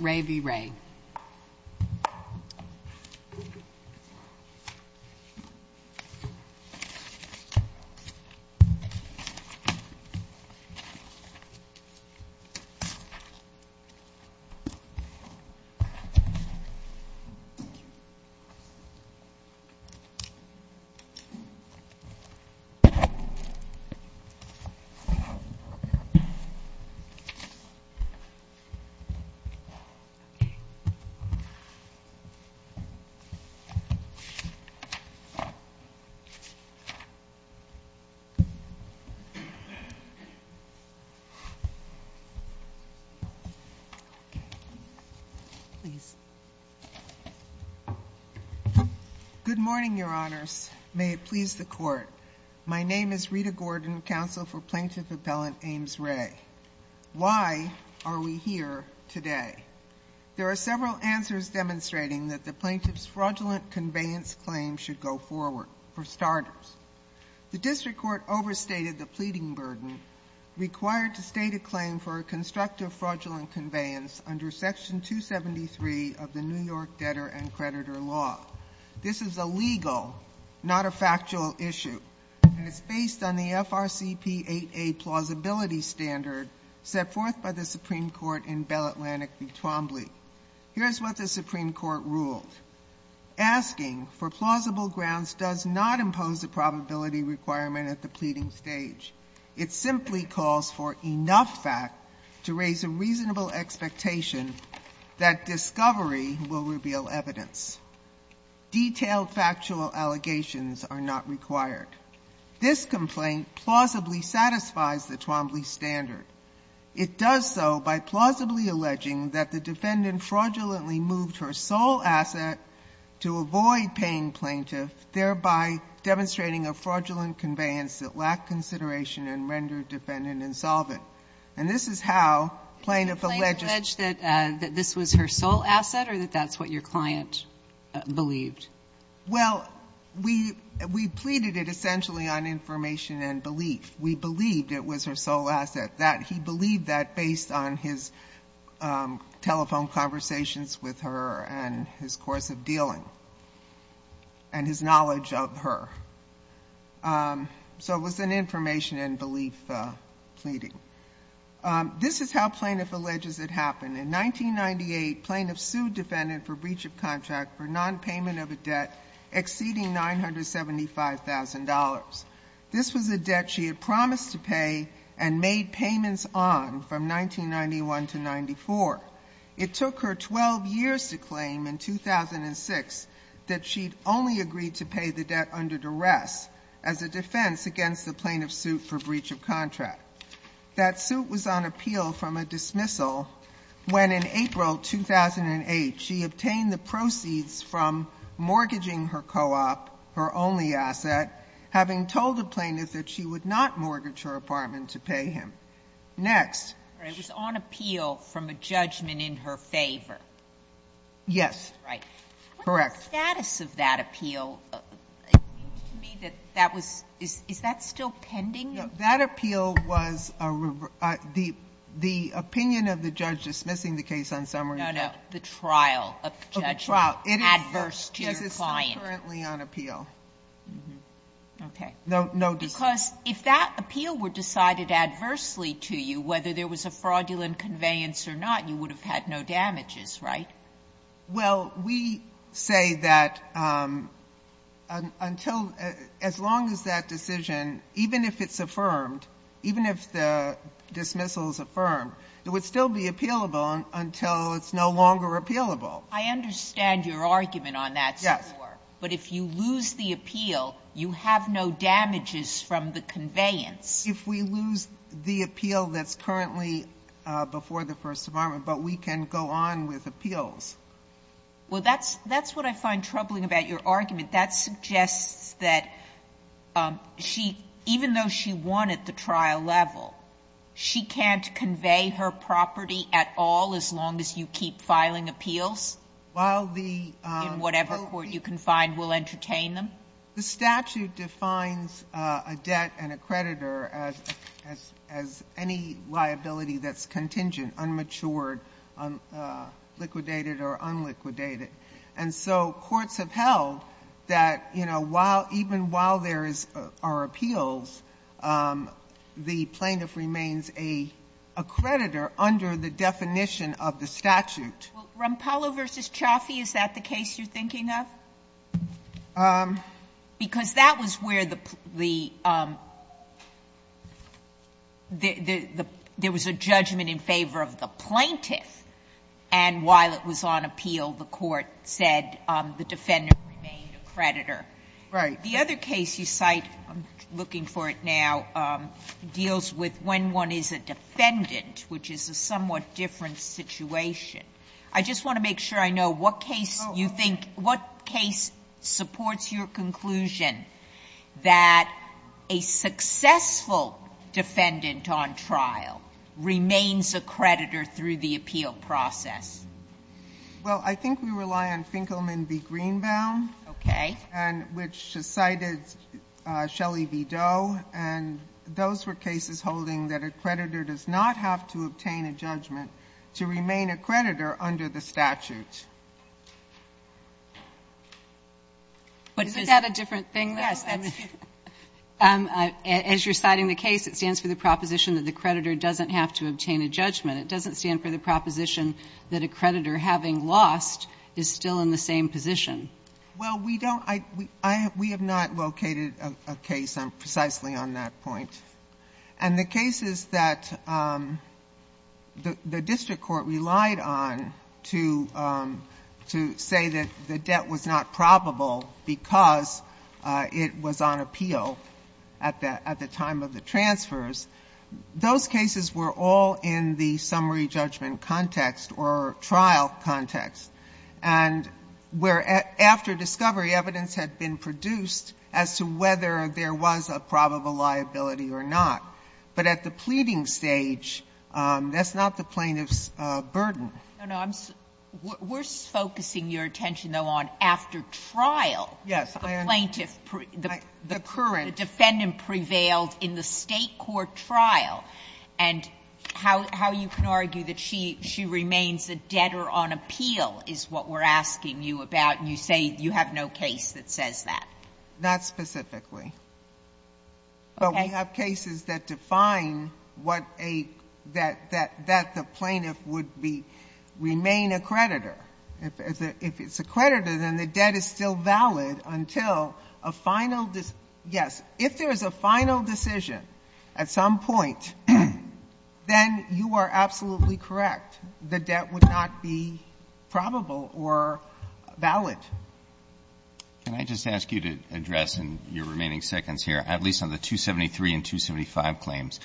v. Ray. Good morning, Your Honors. May it please the Court. My name is Rita Gordon, counsel for Plaintiff Appellant Ames Ray. Why are we here today? There are several answers demonstrating that the Plaintiff's fraudulent conveyance claim should go forward, for starters. The District Court overstated the pleading burden required to state a claim for a constructive fraudulent conveyance under Section 273 of the New York Debtor and Creditor Law. This is a legal, not a factual issue, and it's based on the FRCP 8A plausibility standard set forth by the Supreme Court in Bell Atlantic v. Twombly. Here is what the Supreme Court ruled, asking for plausible grounds does not impose a probability requirement at the pleading stage. It simply calls for enough fact to raise a reasonable expectation that discovery will Detailed factual allegations are not required. This complaint plausibly satisfies the Twombly standard. It does so by plausibly alleging that the defendant fraudulently moved her sole asset to avoid paying plaintiff, thereby demonstrating a fraudulent conveyance that lacked consideration and rendered defendant insolvent. And this is how plaintiff alleged that this was her sole asset or that that's what your client believed. Well, we pleaded it essentially on information and belief. We believed it was her sole asset, that he believed that based on his telephone conversations with her and his course of dealing and his knowledge of her. So it was an information and belief pleading. This is how plaintiff alleges it happened. In 1998, plaintiff sued defendant for breach of contract for non-payment of a debt exceeding $975,000. This was a debt she had promised to pay and made payments on from 1991 to 94. It took her 12 years to claim in 2006 that she'd only agreed to pay the debt under duress as a defense against the plaintiff's suit for breach of contract. That suit was on appeal from a dismissal when in April 2008 she obtained the proceeds from mortgaging her co-op, her only asset, having told the plaintiff that she would not mortgage her apartment to pay him. Next. Sotomayor, it was on appeal from a judgment in her favor. Yes. Right. Correct. What is the status of that appeal? To me, that was – is that still pending? That appeal was a – the opinion of the judge dismissing the case on summary trial. No, no. The trial of the judge. Of the trial. Adverse to your client. This is still currently on appeal. Okay. Because if that appeal were decided adversely to you, whether there was a fraudulent conveyance or not, you would have had no damages, right? Well, we say that until – as long as that decision, even if it's affirmed, even if the dismissal is affirmed, it would still be appealable until it's no longer appealable. I understand your argument on that score, but if you lose the appeal, you have no damages from the conveyance. If we lose the appeal that's currently before the First Department, but we can go on with appeals. Well, that's what I find troubling about your argument. That suggests that she – even though she won at the trial level, she can't convey her property at all as long as you keep filing appeals? While the – In whatever court you can find will entertain them? The statute defines a debt and a creditor as any liability that's contingent, unmatured, liquidated or unliquidated. And so courts have held that, you know, while – even while there are appeals, the plaintiff remains a creditor under the definition of the statute. Well, Rampallo v. Chaffee, is that the case you're thinking of? Because that was where the – there was a judgment in favor of the plaintiff, and while it was on appeal, the court said the defendant remained a creditor. Right. The other case you cite, I'm looking for it now, deals with when one is a defendant, which is a somewhat different situation. I just want to make sure I know what case you think – what case supports your conclusion that a successful defendant on trial remains a creditor through the appeal process? Well, I think we rely on Finkelman v. Greenbaum. Okay. And which cited Shelley v. Doe, and those were cases holding that a creditor does not have to obtain a judgment to remain a creditor under the statute. But is that a different thing? Yes. As you're citing the case, it stands for the proposition that the creditor doesn't have to obtain a judgment. It doesn't stand for the proposition that a creditor, having lost, is still in the same position. Well, we don't – we have not located a case precisely on that point. And the cases that the district court relied on to say that the debt was not probable because it was on appeal at the time of the transfers, those cases were all in the summary judgment context or trial context, and where after discovery, evidence had been produced as to whether there was a probable liability or not. But at the pleading stage, that's not the plaintiff's burden. No, no. I'm – we're focusing your attention, though, on after trial. Yes. The plaintiff – the defendant prevailed in the State court trial. And how you can argue that she remains a debtor on appeal is what we're asking you about. You say you have no case that says that. Not specifically. Okay. But we have cases that define what a – that the plaintiff would be – remain a creditor. If it's a creditor, then the debt is still valid until a final – yes. If there is a final decision at some point, then you are absolutely correct. The debt would not be probable or valid. Can I just ask you to address in your remaining seconds here, at least on the 273 and 275 claims,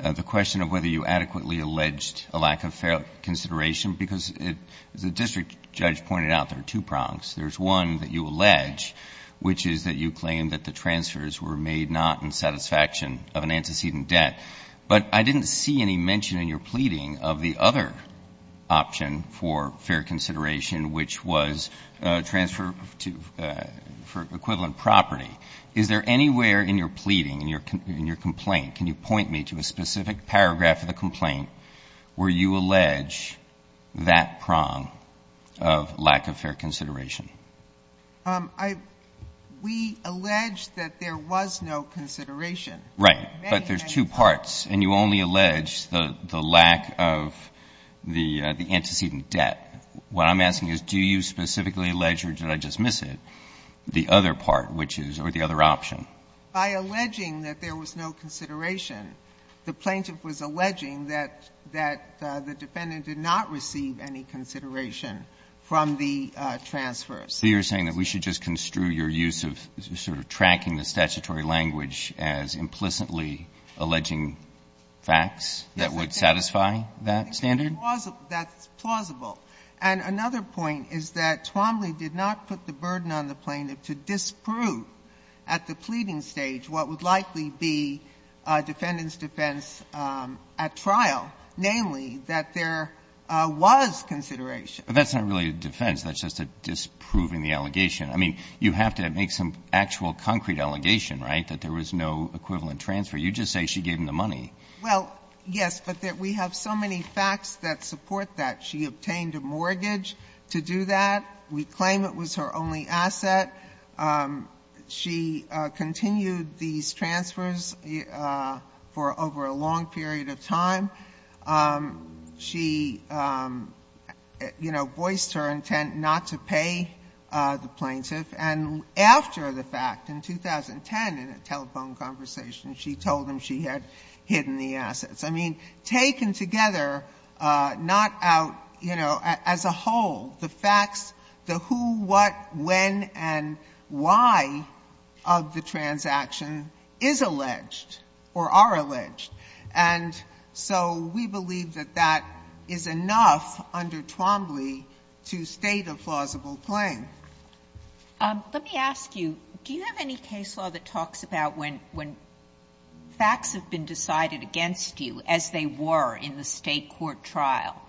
the question of whether you adequately alleged a lack of fair consideration? Because it – as the district judge pointed out, there are two prongs. There's one that you allege, which is that you claim that the transfers were made not in satisfaction of an antecedent debt. But I didn't see any mention in your pleading of the other option for fair consideration, which was transfer to – for equivalent property. Is there anywhere in your pleading, in your complaint – can you point me to a specific paragraph of the complaint where you allege that prong of lack of fair consideration? I – we allege that there was no consideration. Right. But there's two parts, and you only allege the lack of the antecedent debt. What I'm asking is, do you specifically allege, or did I just miss it, the other part, which is – or the other option? By alleging that there was no consideration, the plaintiff was alleging that – that the defendant did not receive any consideration from the transfers. So you're saying that we should just construe your use of sort of tracking the statutory language as implicitly alleging facts that would satisfy that standard? That's plausible. And another point is that Twombly did not put the burden on the plaintiff to disprove at the pleading stage what would likely be defendant's defense at trial, namely that there was consideration. But that's not really a defense. That's just a disproving the allegation. I mean, you have to make some actual concrete allegation, right? That there was no equivalent transfer. You just say she gave him the money. Well, yes, but we have so many facts that support that. She obtained a mortgage to do that. We claim it was her only asset. She continued these transfers for over a long period of time. She, you know, voiced her intent not to pay the plaintiff. And after the fact, in 2010, in a telephone conversation, she told him she had hidden the assets. I mean, taken together, not out, you know, as a whole, the facts, the who, what, when, and why of the transaction is alleged or are alleged. And so we believe that that is enough under Twombly to state a plausible claim. Let me ask you, do you have any case law that talks about when facts have been decided against you, as they were in the State court trial,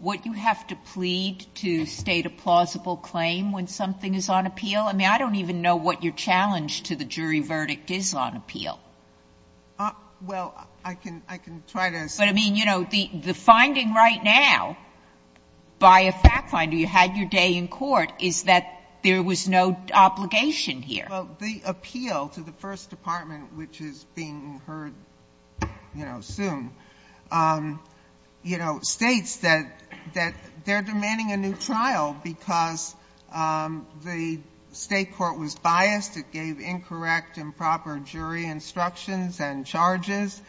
would you have to plead to state a plausible claim when something is on appeal? I mean, I don't even know what your challenge to the jury verdict is on appeal. Well, I can try to. But I mean, you know, the finding right now by a fact finder, you had your day in court, is that there was no obligation here. Well, the appeal to the First Department, which is being heard, you know, soon, you know, states that they're demanding a new trial because the State court was biased. It gave incorrect and proper jury instructions and charges.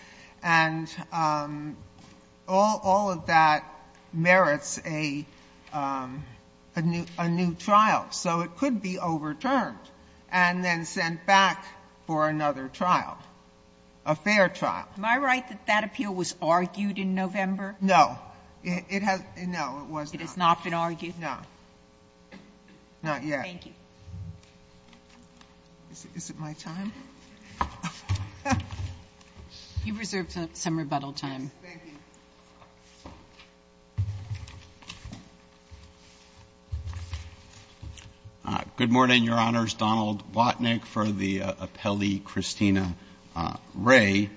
And all of that merits a new trial. So it could be overturned and then sent back for another trial, a fair trial. Am I right that that appeal was argued in November? No, it has, no, it was not. It has not been argued? No, not yet. Thank you. Is it my time? You've reserved some rebuttal time. Yes, thank you. Good morning, Your Honors. Donald Watnick for the appellee, Christina Ray.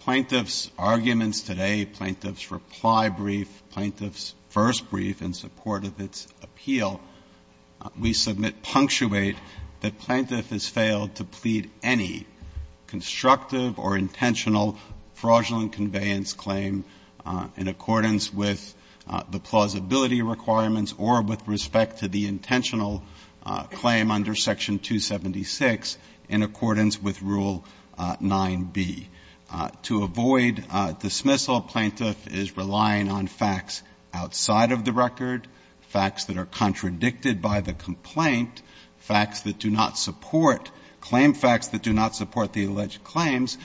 Plaintiff's arguments today, plaintiff's reply brief, plaintiff's first brief in support of its appeal, we submit punctuate that plaintiff has failed to plead any constructive or intentional fraudulent conveyance claim in accordance with the plausibility requirements or with respect to the intentional claim under Section 276 in accordance with Rule 9b. To avoid dismissal, plaintiff is relying on facts outside of the record, facts that are contradicted by the complaint, facts that do not support, claim facts that do not support the alleged claims,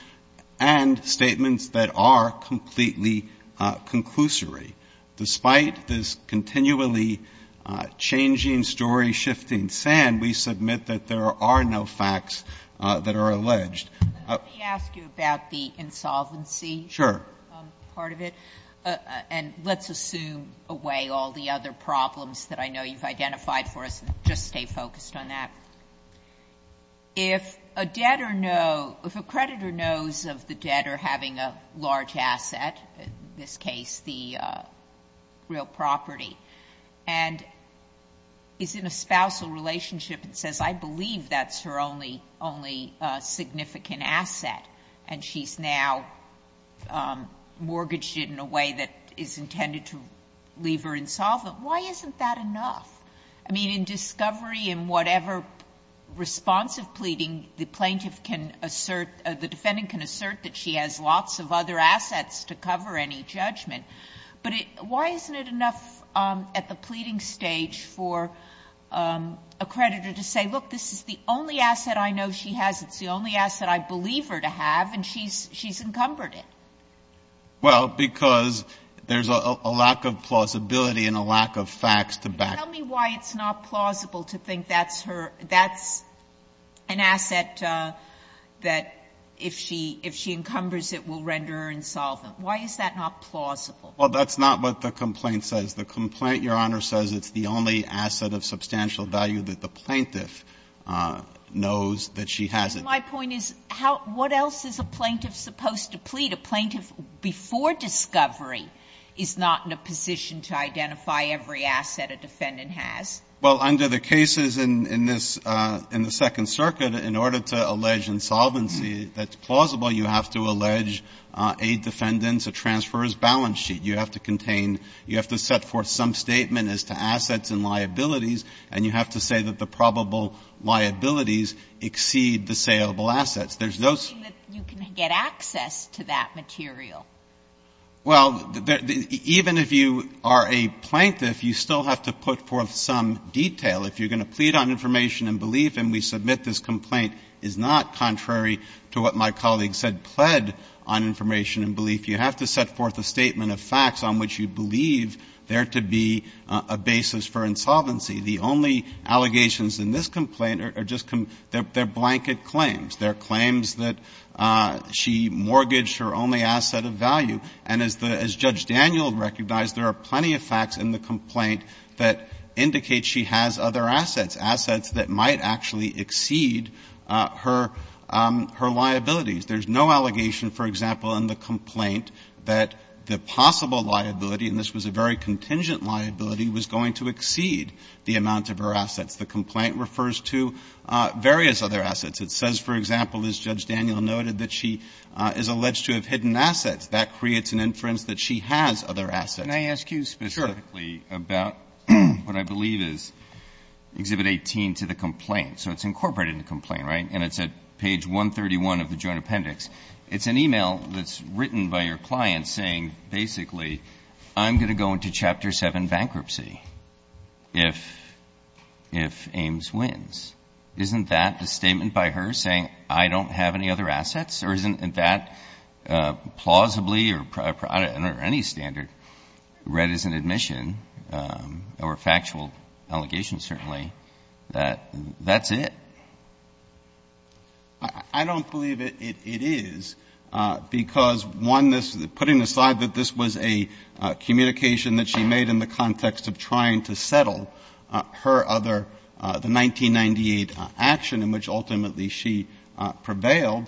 and statements that are completely conclusory. Despite this continually changing story, shifting sand, we submit that there are no facts that are alleged. Let me ask you about the insolvency part of it, and let's assume away all the other problems that I know you've identified for us and just stay focused on that. If a creditor knows of the debtor having a large asset, in this case the real property, and is in a spousal relationship and says, I believe that's her only significant asset, and she's now mortgaged it in a way that is intended to leave her insolvent, why isn't that enough? I mean, in discovery and whatever response of pleading, the plaintiff can assert or the defendant can assert that she has lots of other assets to cover any judgment. But why isn't it enough at the pleading stage for a creditor to say, look, this is the only asset I know she has, it's the only asset I believe her to have, and she's encumbered it? Well, because there's a lack of plausibility and a lack of facts to back it up. Tell me why it's not plausible to think that's her – that's an asset that if she encumbers it will render her insolvent. Why is that not plausible? Well, that's not what the complaint says. The complaint, Your Honor, says it's the only asset of substantial value that the plaintiff knows that she has it. My point is, how – what else is a plaintiff supposed to plead? A plaintiff before discovery is not in a position to identify every asset a defendant has. Well, under the cases in this – in the Second Circuit, in order to allege insolvency that's plausible, you have to allege a defendant's, a transfer's balance sheet. You have to contain – you have to set forth some statement as to assets and liabilities, and you have to say that the probable liabilities exceed the saleable assets. There's those – So you're saying that you can get access to that material? Well, even if you are a plaintiff, you still have to put forth some detail. If you're going to plead on information and belief and we submit this complaint is not contrary to what my colleague said, pled on information and belief. You have to set forth a statement of facts on which you believe there to be a basis for insolvency. The only allegations in this complaint are just – they're blanket claims. They're claims that she mortgaged her only asset of value. And as the – as Judge Daniel recognized, there are plenty of facts in the complaint that indicate she has other assets, assets that might actually exceed her – her liabilities. There's no allegation, for example, in the complaint that the possible liability – and this was a very contingent liability – was going to exceed the amount of her The complaint refers to various other assets. It says, for example, as Judge Daniel noted, that she is alleged to have hidden assets. That creates an inference that she has other assets. Can I ask you specifically about what I believe is Exhibit 18 to the complaint? So it's incorporated in the complaint, right? And it's at page 131 of the Joint Appendix. It's an email that's written by your client saying, basically, I'm going to go into Chapter 7 bankruptcy if – if Ames wins. Isn't that a statement by her saying, I don't have any other assets? Or isn't that plausibly or – or any standard read as an admission or factual allegation, certainly, that that's it? I don't believe it is because, one, this – putting aside that this was a communication that she made in the context of trying to settle her other – the 1998 action in which, ultimately, she prevailed,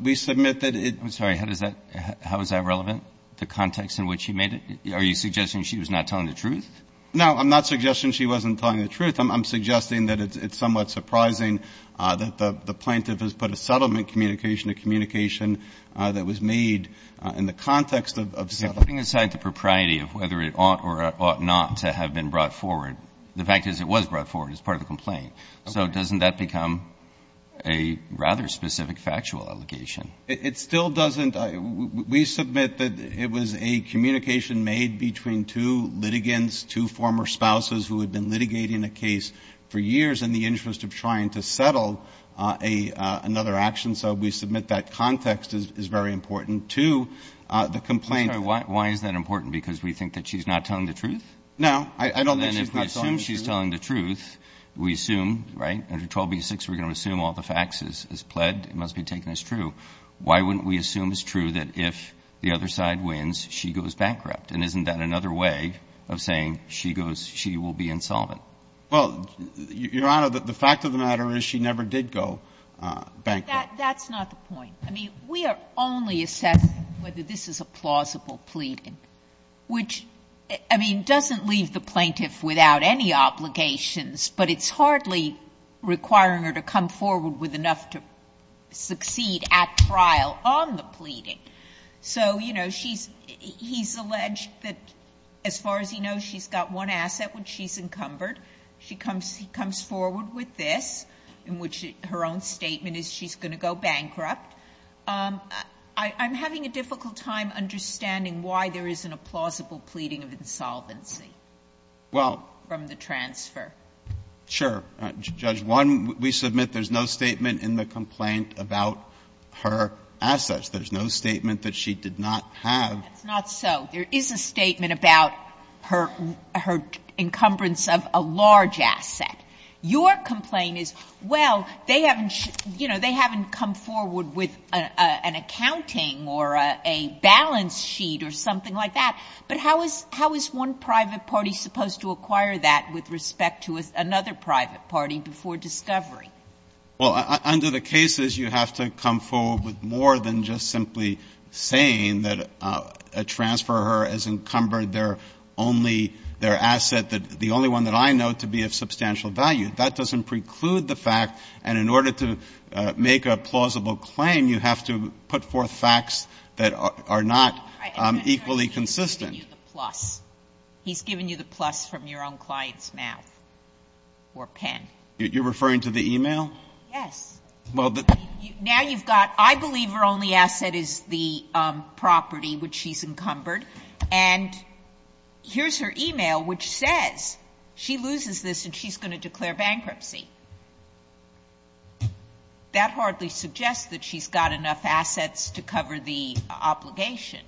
we submit that it – I'm sorry. How does that – how is that relevant, the context in which she made it? Are you suggesting she was not telling the truth? No, I'm not suggesting she wasn't telling the truth. I'm suggesting that it's somewhat surprising that the plaintiff has put a settlement communication, a communication that was made in the context of settling. Putting aside the propriety of whether it ought or ought not to have been brought forward, the fact is it was brought forward as part of the complaint. So doesn't that become a rather specific factual allegation? It still doesn't – we submit that it was a communication made between two litigants, two former spouses who had been litigating a case for years in the interest of trying to settle a – another action. So we submit that context is very important to the complaint. I'm sorry. Why is that important? Because we think that she's not telling the truth? I don't think she's not telling the truth. And then if we assume she's telling the truth, we assume – right? Under 12b-6, we're going to assume all the facts is pled. It must be taken as true. Why wouldn't we assume as true that if the other side wins, she goes bankrupt? And isn't that another way of saying she goes – she will be insolvent? Well, Your Honor, the fact of the matter is she never did go bankrupt. That's not the point. I mean, we are only assessing whether this is a plausible pleading, which, I mean, doesn't leave the plaintiff without any obligations, but it's hardly requiring her to come forward with enough to succeed at trial on the pleading. So, you know, she's – he's alleged that as far as he knows, she's got one asset which she's encumbered. She comes – he comes forward with this, in which her own statement is she's going to go bankrupt. I'm having a difficult time understanding why there isn't a plausible pleading of insolvency from the transfer. Well, sure. Judge, one, we submit there's no statement in the complaint about her assets. There's no statement that she did not have. That's not so. There is a statement about her encumbrance of a large asset. Your complaint is, well, they haven't – you know, they haven't come forward with an accounting or a balance sheet or something like that. But how is – how is one private party supposed to acquire that with respect to another private party before discovery? Well, under the cases, you have to come forward with more than just simply saying that a transfer of hers has encumbered their only – their asset, the only one that I know to be of substantial value. That doesn't preclude the fact. And in order to make a plausible claim, you have to put forth facts that are not equally consistent. He's giving you the plus. He's giving you the plus from your own client's mouth or pen. You're referring to the email? Yes. Well, the – Now you've got – I believe her only asset is the property which she's encumbered. And here's her email which says she loses this and she's going to declare bankruptcy. That hardly suggests that she's got enough assets to cover the obligation.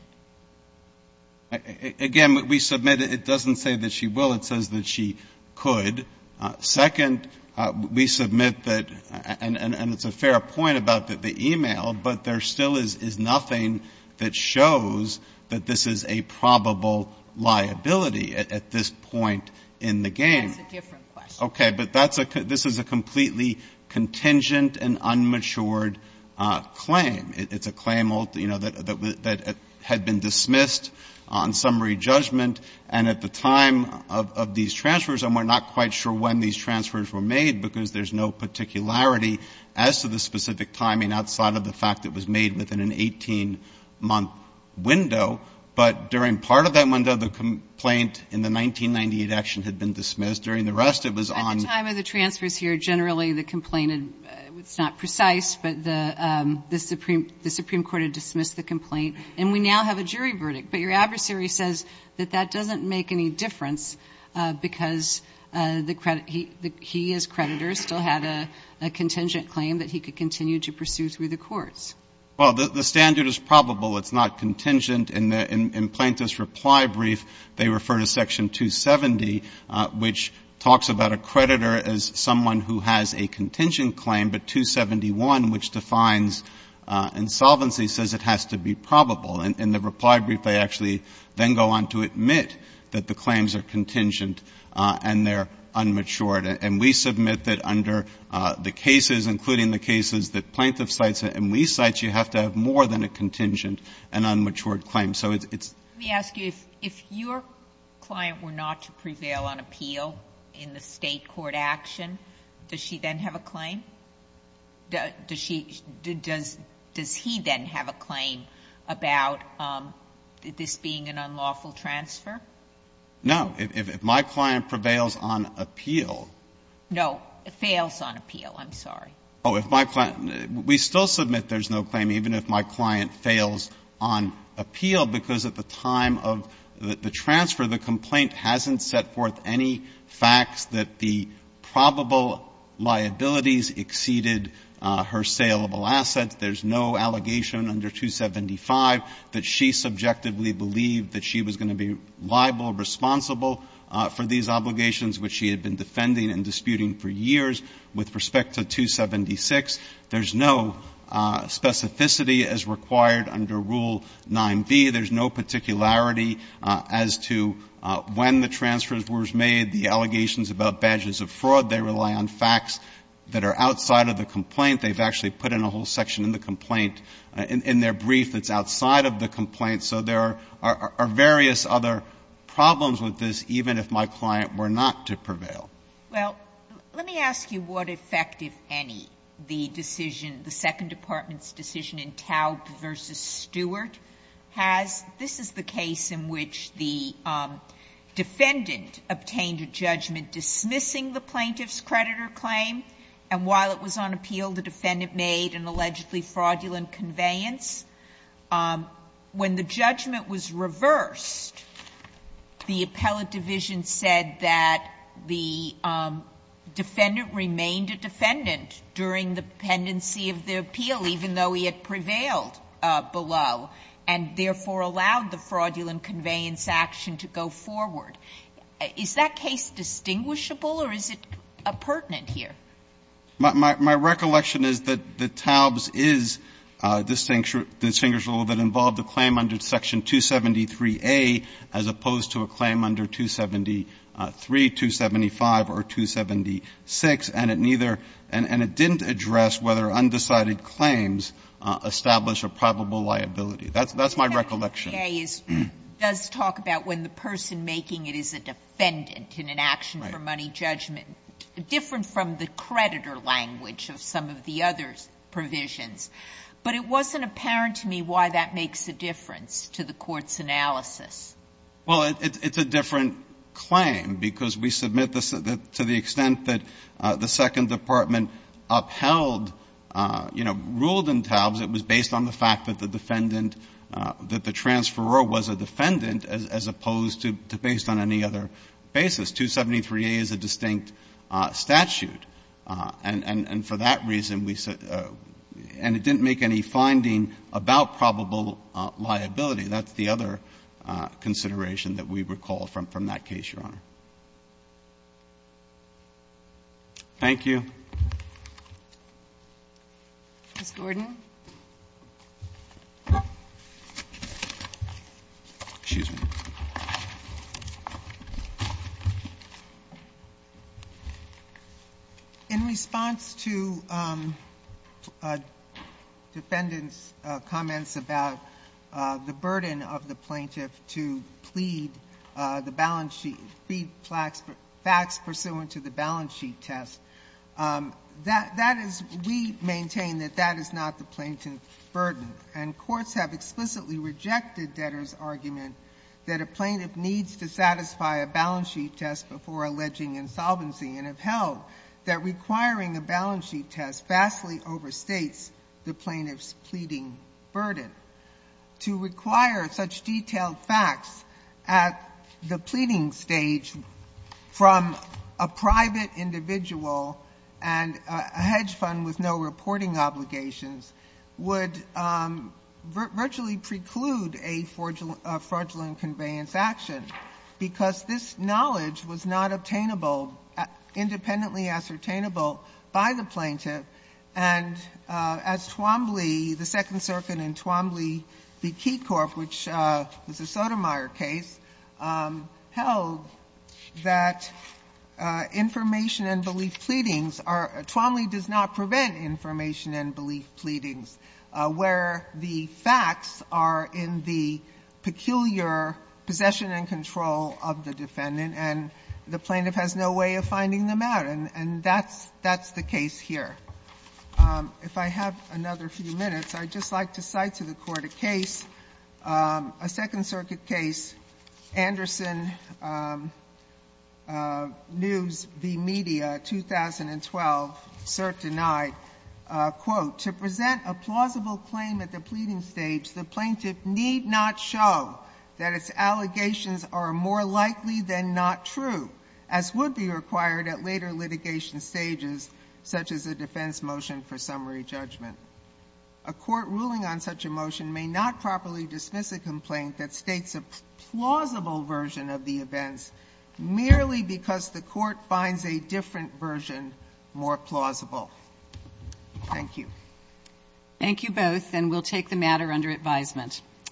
Again, we submit it doesn't say that she will. It says that she could. Second, we submit that – and it's a fair point about the email, but there still is nothing that shows that this is a probable liability at this point in the game. That's a different question. Okay. But that's a – this is a completely contingent and unmatured claim. It's a claim, you know, that had been dismissed on summary judgment and at the time of these transfers and we're not quite sure when these transfers were made because there's no particularity as to the specific timing outside of the fact that it was made within an 18-month window. But during part of that window, the complaint in the 1998 action had been dismissed. During the rest, it was on – At the time of the transfers here, generally, the complaint – it's not precise, but the Supreme Court had dismissed the complaint and we now have a jury verdict. But your adversary says that that doesn't make any difference because the – he as creditor still had a contingent claim that he could continue to pursue through the courts. Well, the standard is probable. It's not contingent. In Plaintiff's reply brief, they refer to Section 270, which talks about a creditor as someone who has a contingent claim, but 271, which defines insolvency, says it has to be probable. In the reply brief, they actually then go on to admit that the claims are contingent and they're unmatured. And we submit that under the cases, including the cases that Plaintiff cites and we cite, you have to have more than a contingent and unmatured claim. So it's – Let me ask you, if your client were not to prevail on appeal in the State court action, does she then have a claim? Does she – does he then have a claim about this being an unlawful transfer? No. If my client prevails on appeal – No, fails on appeal. I'm sorry. Oh, if my client – we still submit there's no claim even if my client fails on appeal because at the time of the transfer, the complaint hasn't set forth any facts that the probable liabilities exceeded her saleable assets. There's no allegation under 275 that she subjectively believed that she was going to be liable, responsible for these obligations, which she had been defending and disputing for years with respect to 276. There's no specificity as required under Rule 9b. There's no particularity as to when the transfer was made, the allegations about badges of fraud. They rely on facts that are outside of the complaint. They've actually put in a whole section in the complaint, in their brief that's outside of the complaint. So there are various other problems with this, even if my client were not to prevail. Well, let me ask you what effect, if any, the decision – the Second Department's decision in Taub v. Stewart has. This is the case in which the defendant obtained a judgment dismissing the plaintiff's creditor claim and while it was on appeal, the defendant made an allegedly fraudulent conveyance. When the judgment was reversed, the appellate division said that the defendant remained a defendant during the pendency of the appeal, even though he had prevailed below, and therefore allowed the fraudulent conveyance action to go forward. Is that case distinguishable or is it appurtenant here? My recollection is that Taub's is distinguishable that it involved a claim under Section 273A as opposed to a claim under 273, 275, or 276, and it neither – and it didn't address whether undecided claims establish a probable liability. That's my recollection. Section 273A does talk about when the person making it is a defendant in an action-for-money judgment. Right. Different from the creditor language of some of the other provisions, but it wasn't apparent to me why that makes a difference to the Court's analysis. Well, it's a different claim because we submit to the extent that the Second Department upheld ruled in Taub's, it was based on the fact that the defendant, that the transferor was a defendant as opposed to based on any other basis. 273A is a distinct statute, and for that reason we – and it didn't make any finding about probable liability. That's the other consideration that we recall from that case, Your Honor. Thank you. Ms. Gordon. Excuse me. In response to defendant's comments about the burden of the plaintiff to plead the balance sheet – plead facts pursuant to the balance sheet test, that is – we maintain that that is not the plaintiff's burden. And courts have explicitly rejected debtor's argument that a plaintiff needs to satisfy a balance sheet test before alleging insolvency and have held that requiring a balance sheet test vastly overstates the plaintiff's pleading burden. To require such detailed facts at the pleading stage from a private individual and a hedge fund with no reporting obligations would virtually preclude a fraudulent conveyance action, because this knowledge was not obtainable – independently ascertainable by the plaintiff. And as Twombly, the Second Circuit in Twombly v. Keycorp, which was a Sotomayor case, held that information and belief pleadings are – prevent information and belief pleadings where the facts are in the peculiar possession and control of the defendant, and the plaintiff has no way of finding them out. And that's – that's the case here. If I have another few minutes, I'd just like to cite to the Court a case, a Second Circuit case, Anderson News v. Media, 2012, cert denied. Quote, To present a plausible claim at the pleading stage, the plaintiff need not show that its allegations are more likely than not true, as would be required at later litigation stages, such as a defense motion for summary judgment. A court ruling on such a motion may not properly dismiss a complaint that states a plausible version of the events merely because the court finds a different version more plausible. Thank you. Thank you both, and we'll take the matter under advisement.